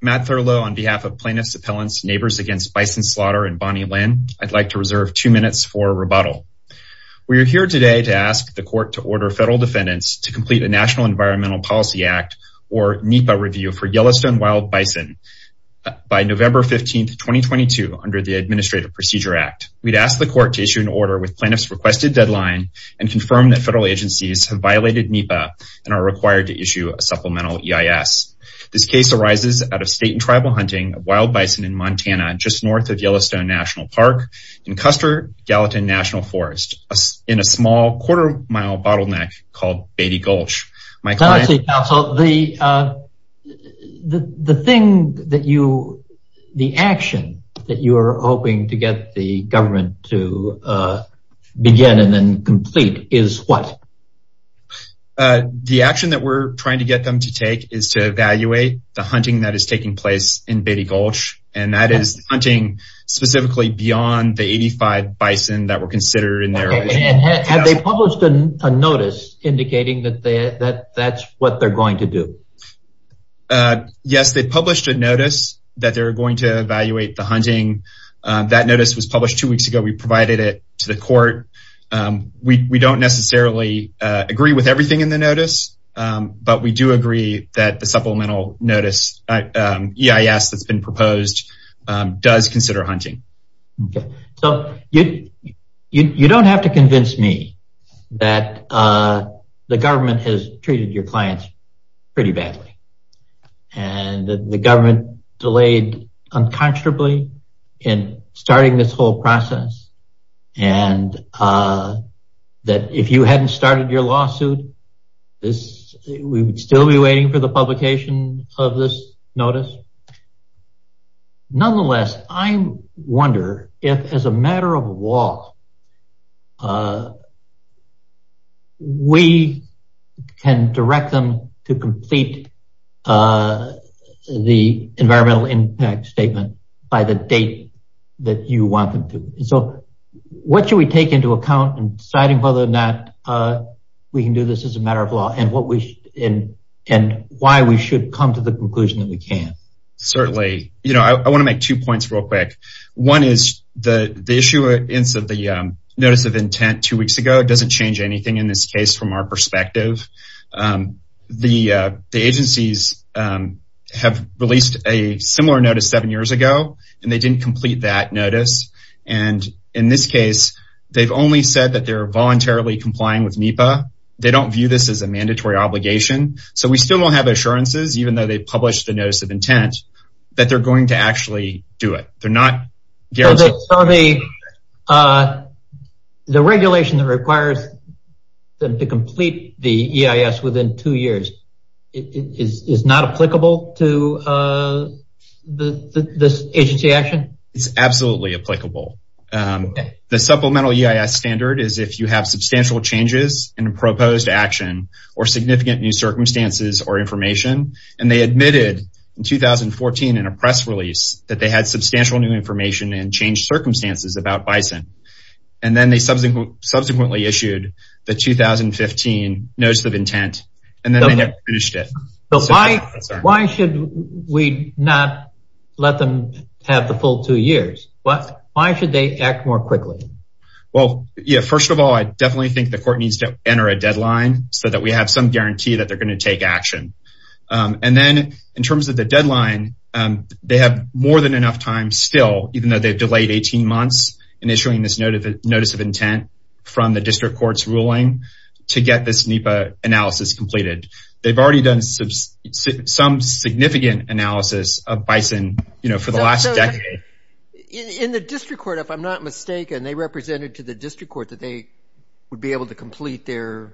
Matt Thurlow on behalf of Plaintiff's Appellants, Neighbors Against Bison Slaughter and Bonnie Lynn. I'd like to reserve two minutes for rebuttal. We are here today to ask the court to order federal defendants to complete a National Environmental Policy Act or NEPA review for Yellowstone wild bison by November 15, 2022 under the Administrative Procedure Act. We'd ask the court to issue an order with plaintiff's requested deadline and confirm that federal agencies have violated NEPA and are required to issue a supplemental EIS. This case arises out of state and tribal hunting of wild bison in Montana just north of Yellowstone National Park in Custer Gallatin National Forest in a small quarter mile bottleneck called Beatty Gulch. The thing that you, the action that you are hoping to get the government to begin and then complete is what? The action that we're trying to get them to take is to evaluate the hunting that is taking place in Beatty Gulch and that is hunting specifically beyond the 85 bison that were considered in there. Have they published a notice indicating that that's what they're going to do? Yes, they published a notice that they're going to evaluate the hunting. That notice was published two weeks ago. We provided it to the court. We don't necessarily agree with everything in the notice, but we do agree that the supplemental notice EIS that's been proposed does consider hunting. So you don't have to convince me that the government has treated your clients pretty badly and the unconscionably in starting this whole process and that if you hadn't started your lawsuit, this we would still be waiting for the publication of this notice. Nonetheless, I wonder if as a matter of law, we can direct them to complete the environmental impact by the date that you want them to. So what should we take into account in deciding whether or not we can do this as a matter of law and why we should come to the conclusion that we can? Certainly. I want to make two points real quick. One is the issue of the notice of intent two weeks ago, it doesn't change anything in this case from our perspective. The agencies have released a similar notice seven years ago and they didn't complete that notice. In this case, they've only said that they're voluntarily complying with NEPA. They don't view this as a mandatory obligation. So we still don't have assurances, even though they published the notice of intent, that they're going to actually do it. The regulation that requires them to complete the EIS within two years, is not applicable to this agency action? It's absolutely applicable. The supplemental EIS standard is if you have substantial changes in a proposed action or significant new circumstances or information, and they admitted in 2014 in a press release that they had substantial new information and changed circumstances about Bison. And then they subsequently issued the 2015 notice of intent, and then they have finished it. So why should we not let them have the full two years? Why should they act more quickly? Well, yeah, first of all, I definitely think the court needs to enter a deadline so that we have some guarantee that they're going to take action. And then in terms of the deadline, they have more than enough time still, even though they've delayed 18 months in issuing this notice of intent from the district court's ruling to get this NEPA analysis completed. They've already done some significant analysis of Bison, you know, for the last decade. In the district court, if I'm not mistaken, they represented to the district court that they would be able to complete their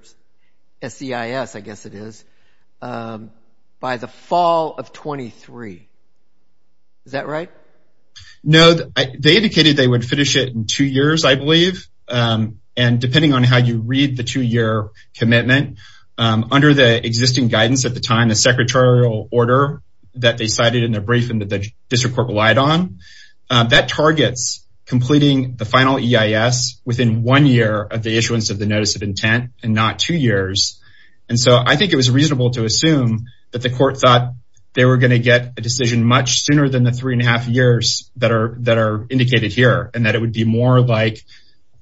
SEIS, I guess it is, by the fall of 23. Is that right? No, they indicated they would finish it in two years, I believe. And depending on how you read the two-year commitment, under the existing guidance at the time, the secretarial order that they cited in their briefing that the district court relied on, that targets completing the final EIS within one year of the issuance of the notice of intent, and not two years. And so I think it was reasonable to assume that the court thought they were going to get a decision much sooner than the three and a half years that are indicated here, and that it would be more like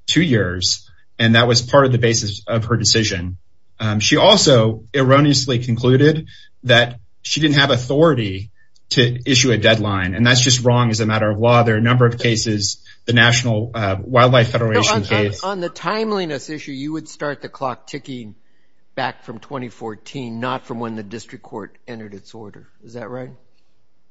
two years. And that was part of the basis of her decision. She also erroneously concluded that she didn't have authority to issue a deadline. And that's just wrong as a matter of law. There are a number of cases, the National Wildlife Federation case. On the timeliness issue, you would start the clock ticking back from 2014, not from when the district court entered its order. Is that right?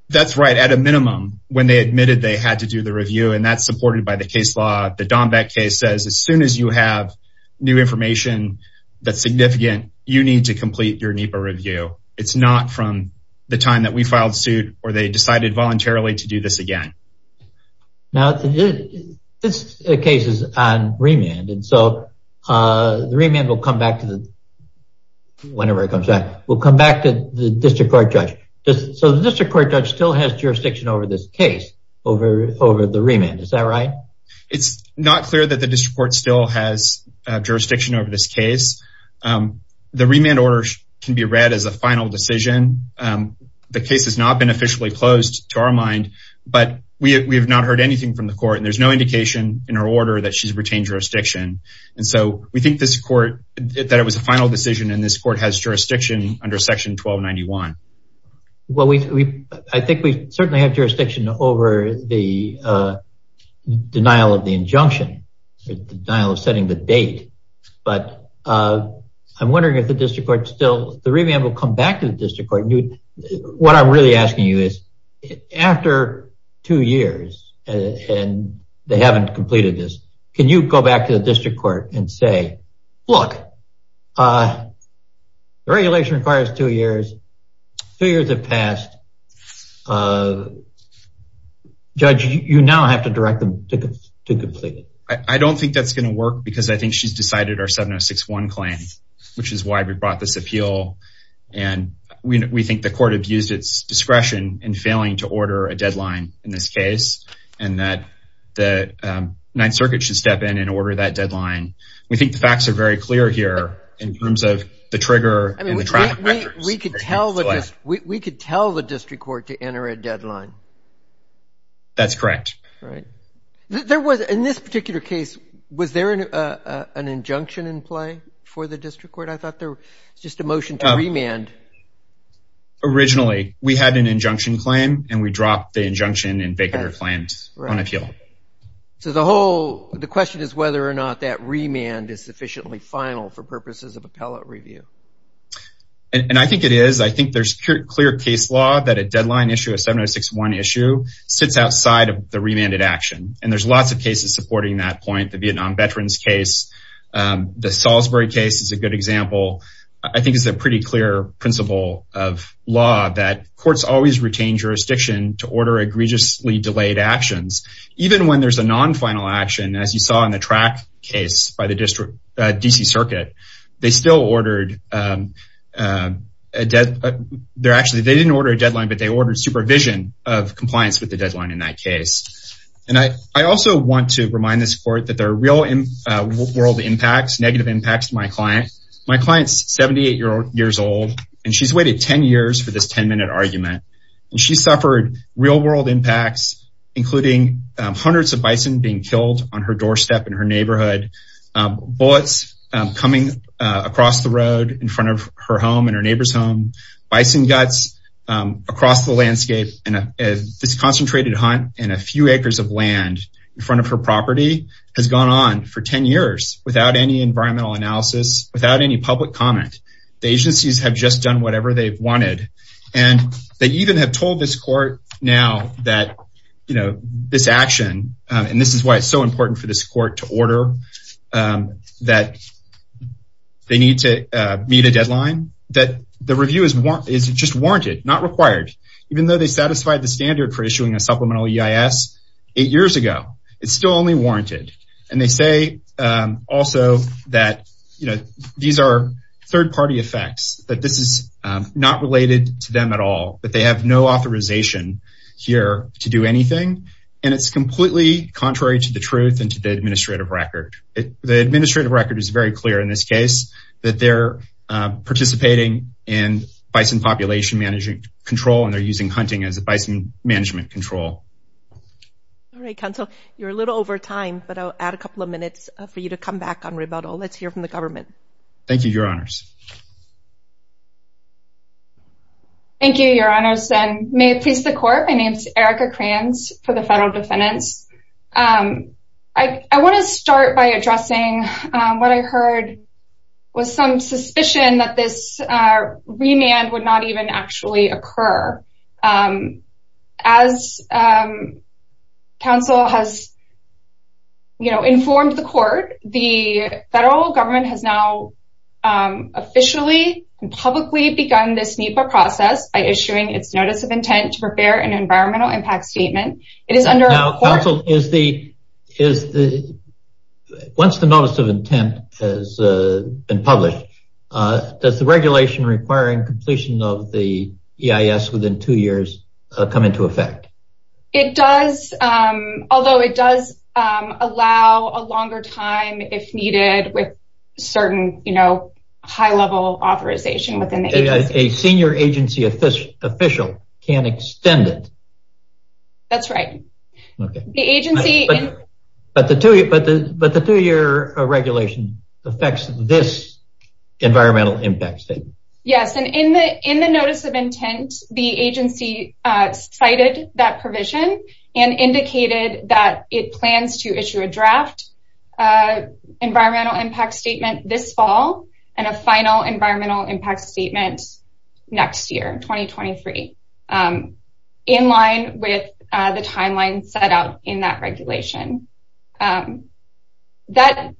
That's right. At a minimum, when they admitted they had to do the review, and that's supported by the case law, the Dombeck case says, as soon as you have new information that's significant, you need to complete your NEPA review. It's not from the time that we filed suit, or they decided voluntarily to do this again. Now, this case is on remand, and so the remand will come back to the, whenever it comes back, will come back to the district court judge. So the district court judge still has jurisdiction over this case, over the remand. Is that right? It's not clear that the district court still has jurisdiction over this case. The remand order can be read as a final decision. The case has not been officially closed to our mind, but we have not heard anything from the court, and there's no indication in her order that she's retained jurisdiction. And so we think this court, that it was a final decision, and this court has jurisdiction under section 1291. Well, I think we certainly have jurisdiction over the denial of the injunction, the denial of setting the date, but I'm wondering if the district court still, the remand will come back to the district court. What I'm really asking you is after two years, and they haven't completed this, can you go back to the district court and say, look, the regulation requires two years. Two years have passed. Judge, you now have to direct them to complete it. I don't think that's going to work because I think she's decided our 7061 claim, which is why we brought this appeal. And we think the court abused its discretion in failing to order a deadline in this case, and that the Ninth Circuit should step in and order that deadline. We think the facts are very clear here in terms of the trigger and the track record. We could tell the district court to enter a deadline. That's correct. Right. In this particular case, was there an injunction in play for the district court? I thought there was just a motion to remand. Originally, we had an injunction claim, and we dropped the injunction and Baker claimed on appeal. So the question is whether or not that remand is sufficiently final for purposes of appellate review. And I think it is. I think there's clear case law that a deadline issue, a 7061 issue, sits outside of the remanded action. And there's lots of cases supporting that point. The Vietnam veterans case, the Salisbury case is a good example. I think it's a pretty clear principle of law that courts always retain jurisdiction to order egregiously delayed actions, even when there's a non-final action, as you saw in the track case by the district DC circuit. They still ordered a deadline. They didn't order a deadline, but they ordered supervision of compliance with the deadline in that case. And I also want to remind this court that there are real world impacts, negative impacts to my client. My client's 78 years old, and she's waited 10 years for this 10 minute argument. And she suffered real world impacts, including hundreds of bison being killed on her doorstep in her neighborhood, bullets coming across the road in front of her home and her neighbor's home, bison guts across the landscape, and this concentrated hunt and a few acres of land in front of her property has gone on for 10 years without any environmental analysis, without any public comment. The agencies have just done whatever they've wanted. And they even have told this court now that, you know, this action, and this is why it's so important for this court to order, that they need to meet a deadline, that the review is just warranted, not required. Even though they satisfied the standard for issuing a supplemental EIS eight years ago, it's still only warranted. And they say also that, you know, these are third-party effects, that this is not related to them at all, that they have no authorization here to do anything. And it's completely contrary to the truth and to the administrative record. The administrative record is very clear in this case, that they're participating in bison population management control, and they're using hunting as a bison management control. All right, counsel, you're a little over time, but I'll add a couple of minutes for you to come back on rebuttal. Let's hear from the government. Thank you, your honors. Thank you, your honors, and may it please the court, my name is Erica Kranz for the federal defendants. I want to start by addressing what I heard was some suspicion that this remand would not even actually occur. As counsel has, you know, informed the court, the federal government has now officially and publicly begun this NEPA process by issuing its notice of intent to prepare an environmental impact statement. It is under... Now, counsel, once the notice of intent has been published, does the regulation requiring completion of the EIS within two years come into effect? It does, although it does allow a longer time if needed with certain, you know, high level authorization within the agency. A senior agency official can't extend it. That's right. The agency... But the two-year regulation affects this environmental impact statement. Yes, and in the notice of intent, the agency cited that provision and indicated that it plans to issue a draft environmental impact statement this fall and a final environmental impact statement next year, 2023, in line with the timeline set out in that regulation. The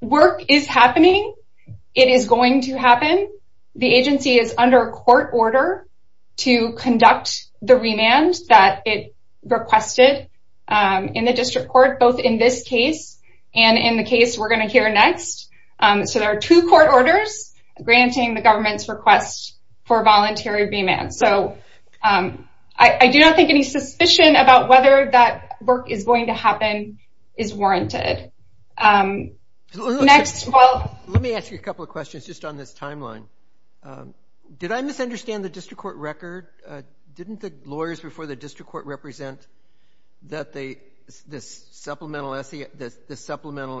work is happening. It is going to happen. The agency is under court order to conduct the remand that it requested in the district court, both in this case and in the case we're going to hear next. So there are two court orders granting the government's request for the remand. So that work is going to happen, is warranted. Next, while... Let me ask you a couple of questions just on this timeline. Did I misunderstand the district court record? Didn't the lawyers before the district court represent that this supplemental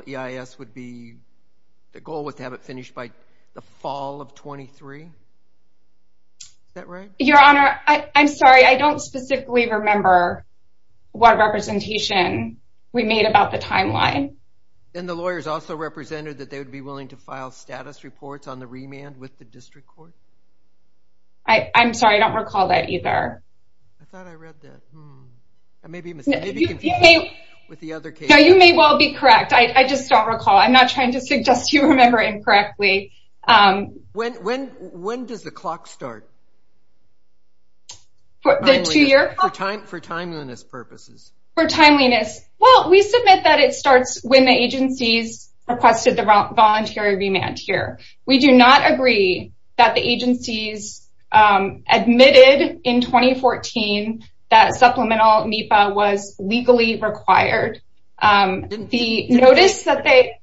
EIS would be... The goal was to have it finished by the fall of 23? Is that right? Your Honor, I'm sorry. I don't specifically remember what representation we made about the timeline. And the lawyers also represented that they would be willing to file status reports on the remand with the district court? I'm sorry. I don't recall that either. I thought I read that. I may be confused with the other case. No, you may well be correct. I just don't recall. I'm not trying to suggest you remember incorrectly. When does the clock start? For timeliness purposes. For timeliness. Well, we submit that it starts when the agencies requested the voluntary remand here. We do not agree that the agencies admitted in 2014 that supplemental NEPA was legally required. The notice that they...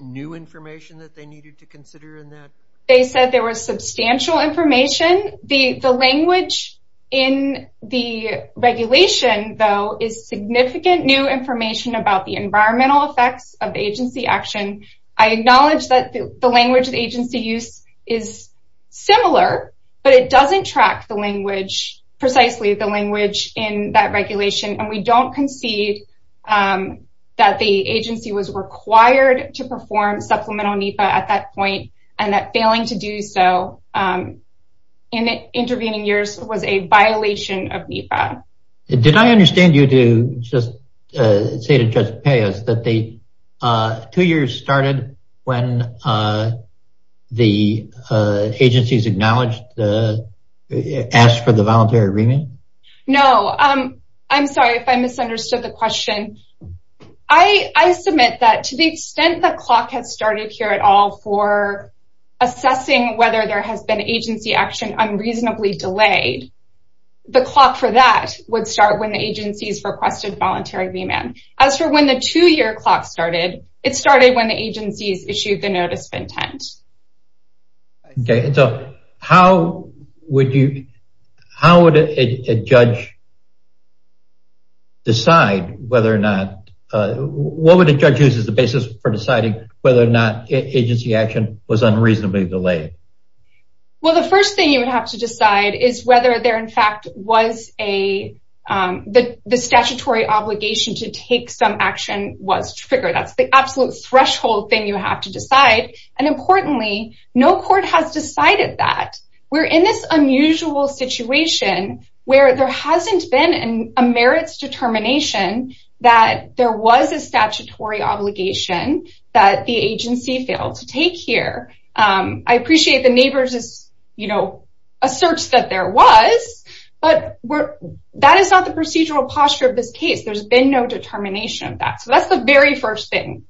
New information that they needed to consider in that? They said there was substantial information. The language in the regulation, though, is significant new information about the environmental effects of agency action. I acknowledge that the language the agency used is similar, but it doesn't track the language, precisely the language in that regulation. And we don't concede that the agency was required to perform supplemental NEPA at that point and that failing to do so in the intervening years was a violation of NEPA. Did I understand you to just say to Judge Peos that the two years started when the agencies acknowledged, asked for the voluntary remand? No. I'm sorry if I misunderstood the question. I submit that to the extent the clock has started here at all for assessing whether there has been agency action unreasonably delayed, the clock for that would start when the agencies requested voluntary remand. As for when the two-year clock started, it started when the agencies issued the notice of intent. Okay. So how would a judge decide whether or not, what would a judge use as the basis for deciding whether or not agency action was unreasonably delayed? Well, the first thing you would have to decide is whether there, in fact, was a, the statutory obligation to take some action was triggered. That's the absolute threshold thing you have to decide. And importantly, no court has decided that. We're in this unusual situation where there hasn't been a merits determination that there was a statutory obligation that the agency failed to take here. I appreciate the neighbors' asserts that there was, but that is not the procedural posture of this case. There's been no determination of that. That's the very first thing.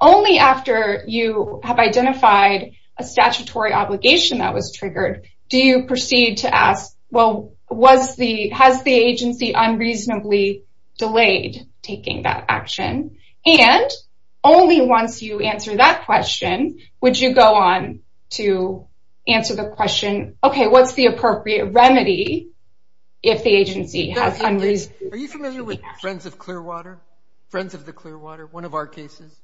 Only after you have identified a statutory obligation that was triggered, do you proceed to ask, well, was the, has the agency unreasonably delayed taking that action? And only once you answer that question, would you go on to answer the question, okay, what's the appropriate remedy if the agency has unreasonably... Are you familiar with Friends of Clearwater? Friends of the Clearwater, one of our cases?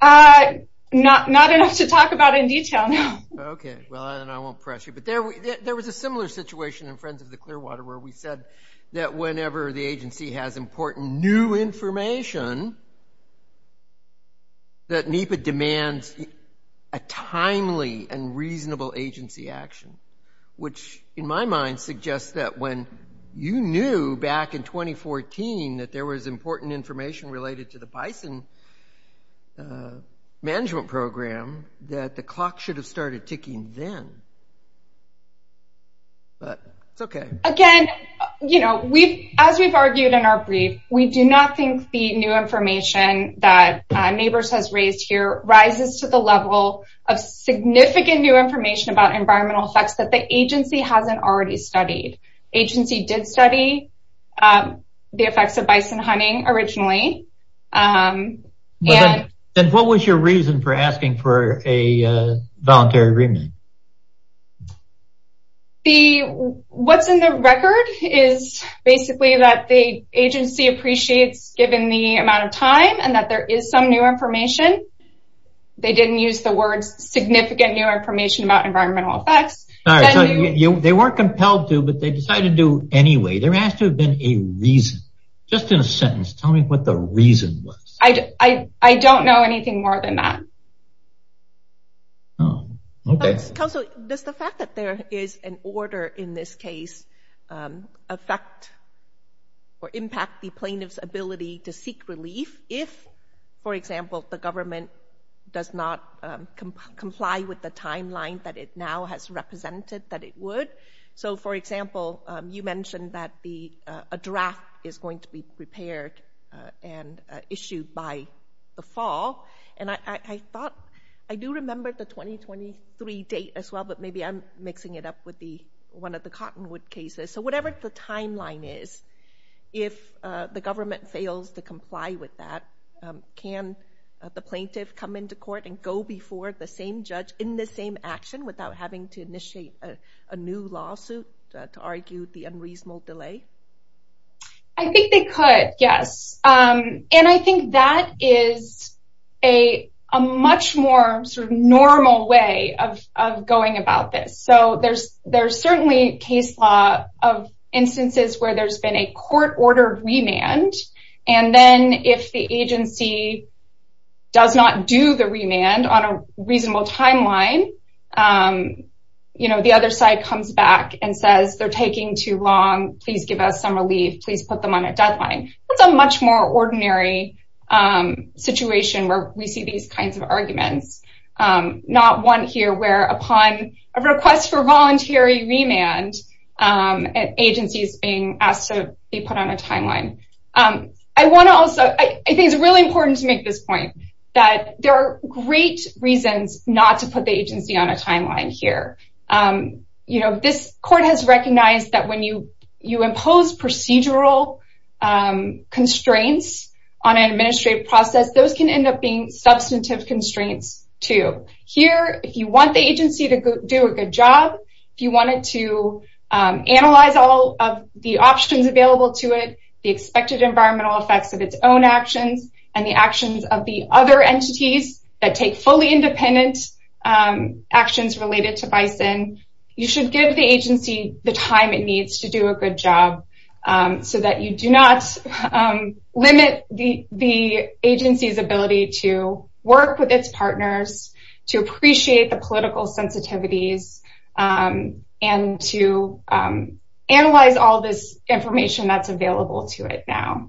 Uh, not enough to talk about in detail now. Okay. Well, then I won't press you. But there was a similar situation in Friends of the Clearwater where we said that whenever the agency has important new information, that NEPA demands a timely and reasonable agency action, which in my mind suggests that when you knew back in 2014 that there was important information related to the bison management program, that the clock should have started ticking then. But it's okay. Again, you know, we've, as we've argued in our brief, we do not think the new information that neighbors has raised here rises to the level of significant new information about environmental effects that the agency hasn't already studied. Agency did study the effects of bison hunting originally. And what was your reason for asking for a voluntary agreement? The, what's in the record is basically that the agency appreciates given the amount of time and that there is some new information. They didn't use the words significant new information about environmental effects. They weren't compelled to, but they decided to do anyway. There has to have been a reason. Just in a sentence, tell me what the reason was. I don't know anything more than that. Oh, okay. Counselor, does the fact that there is an order in this case affect or impact the plaintiff's ability to seek relief if, for example, the government does not comply with the guidelines that it now has represented that it would? So for example, you mentioned that the, a draft is going to be prepared and issued by the fall. And I thought, I do remember the 2023 date as well, but maybe I'm mixing it up with the, one of the Cottonwood cases. So whatever the timeline is, if the government fails to comply with that, can the plaintiff come into court and go before the judge in the same action without having to initiate a new lawsuit to argue the unreasonable delay? I think they could, yes. And I think that is a much more sort of normal way of going about this. So there's certainly case law of instances where there's been a court-ordered remand. And then if the agency does not do the remand on a reasonable timeline, you know, the other side comes back and says, they're taking too long. Please give us some relief. Please put them on a deadline. That's a much more ordinary situation where we see these kinds of arguments. Not one here where upon a request for voluntary remand, an agency is being put on a timeline. I want to also, I think it's really important to make this point that there are great reasons not to put the agency on a timeline here. This court has recognized that when you impose procedural constraints on an administrative process, those can end up being substantive constraints too. Here, if you want the agency to do a good job, if you wanted to analyze all of the options available to it, the expected environmental effects of its own actions, and the actions of the other entities that take fully independent actions related to Bison, you should give the agency the time it needs to do a good job so that you do not limit the agency's ability to work with its partners, to appreciate the sensitivities, and to analyze all this information that's available to it now.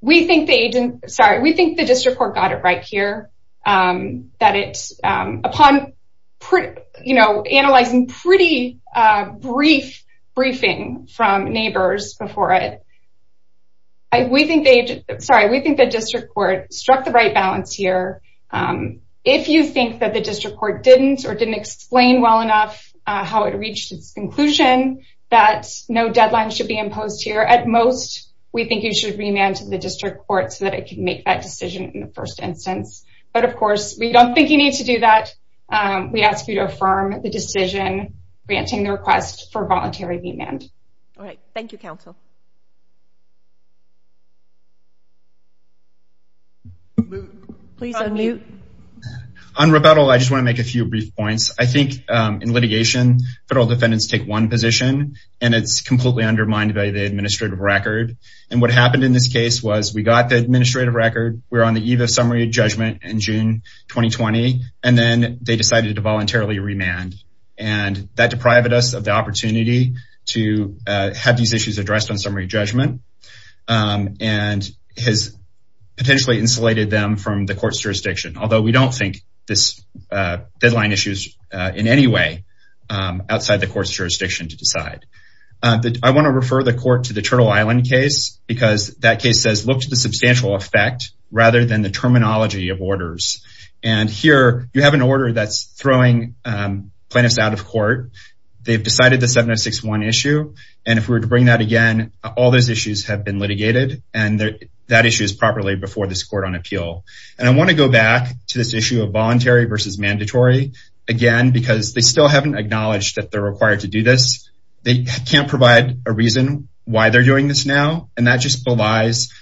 We think the district court got it right here. Upon analyzing pretty brief briefing from neighbors before it, we think the district court struck the right balance here. If you think that the district court didn't or didn't explain well enough how it reached its conclusion that no deadline should be imposed here, at most, we think you should remand to the district court so that it can make that decision in the first instance. But of course, we don't think you need to do that. We ask you to affirm the decision granting the request for voluntary remand. All right. Thank you, counsel. Please unmute. On rebuttal, I just want to make a few brief points. I think in litigation, federal defendants take one position, and it's completely undermined by the administrative record. And what happened in this case was we got the administrative record, we're on the eve of summary judgment in June 2020, and then they decided to voluntarily remand. And that deprived us of the opportunity to have these issues addressed on summary judgment and has potentially insulated them from the court's jurisdiction. Although we don't think this deadline issue is in any way outside the court's jurisdiction to decide. I want to refer the court to the Turtle Island case because that case says look to the substantial effect rather than the terminology of orders. And here, you have an order that's throwing plaintiffs out of court. They've decided the 7061 issue. And if we were to bring that again, all those issues have been litigated. And that issue is properly before this court on appeal. And I want to go back to this issue of voluntary versus mandatory, again, because they still haven't acknowledged that they're required to do this. They can't provide a reason why they're doing this now. And that just belies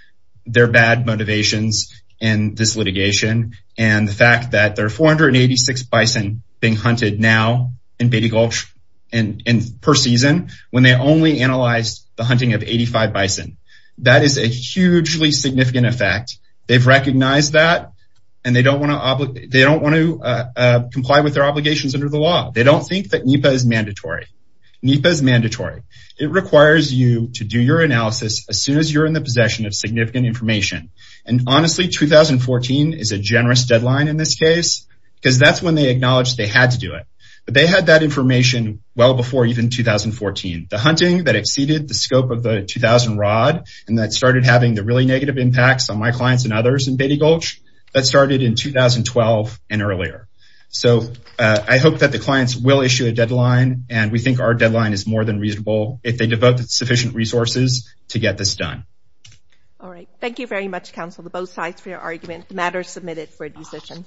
their bad motivations in this litigation and the fact that there are 486 bison being hunted now in Beatty Gulch per season when they only analyzed the hunting of 85 bison. That is a hugely significant effect. They've recognized that and they don't want to comply with their obligations under the law. They don't think that NEPA is mandatory. NEPA is mandatory. It requires you to do your analysis as soon as you're in the possession of significant information. And honestly, 2014 is a generous deadline in this case because that's when they acknowledged they had to do it. But they had that information well before even 2014. The hunting that exceeded the scope of the 2000 rod and that started having the really negative impacts on my clients and others in Beatty Gulch, that started in 2012 and earlier. So I hope that the clients will issue a deadline and we think our deadline is more than reasonable if they devote sufficient resources to get this done. All right. Thank you very much, counsel, to both sides for your argument. The matter is submitted for a decision.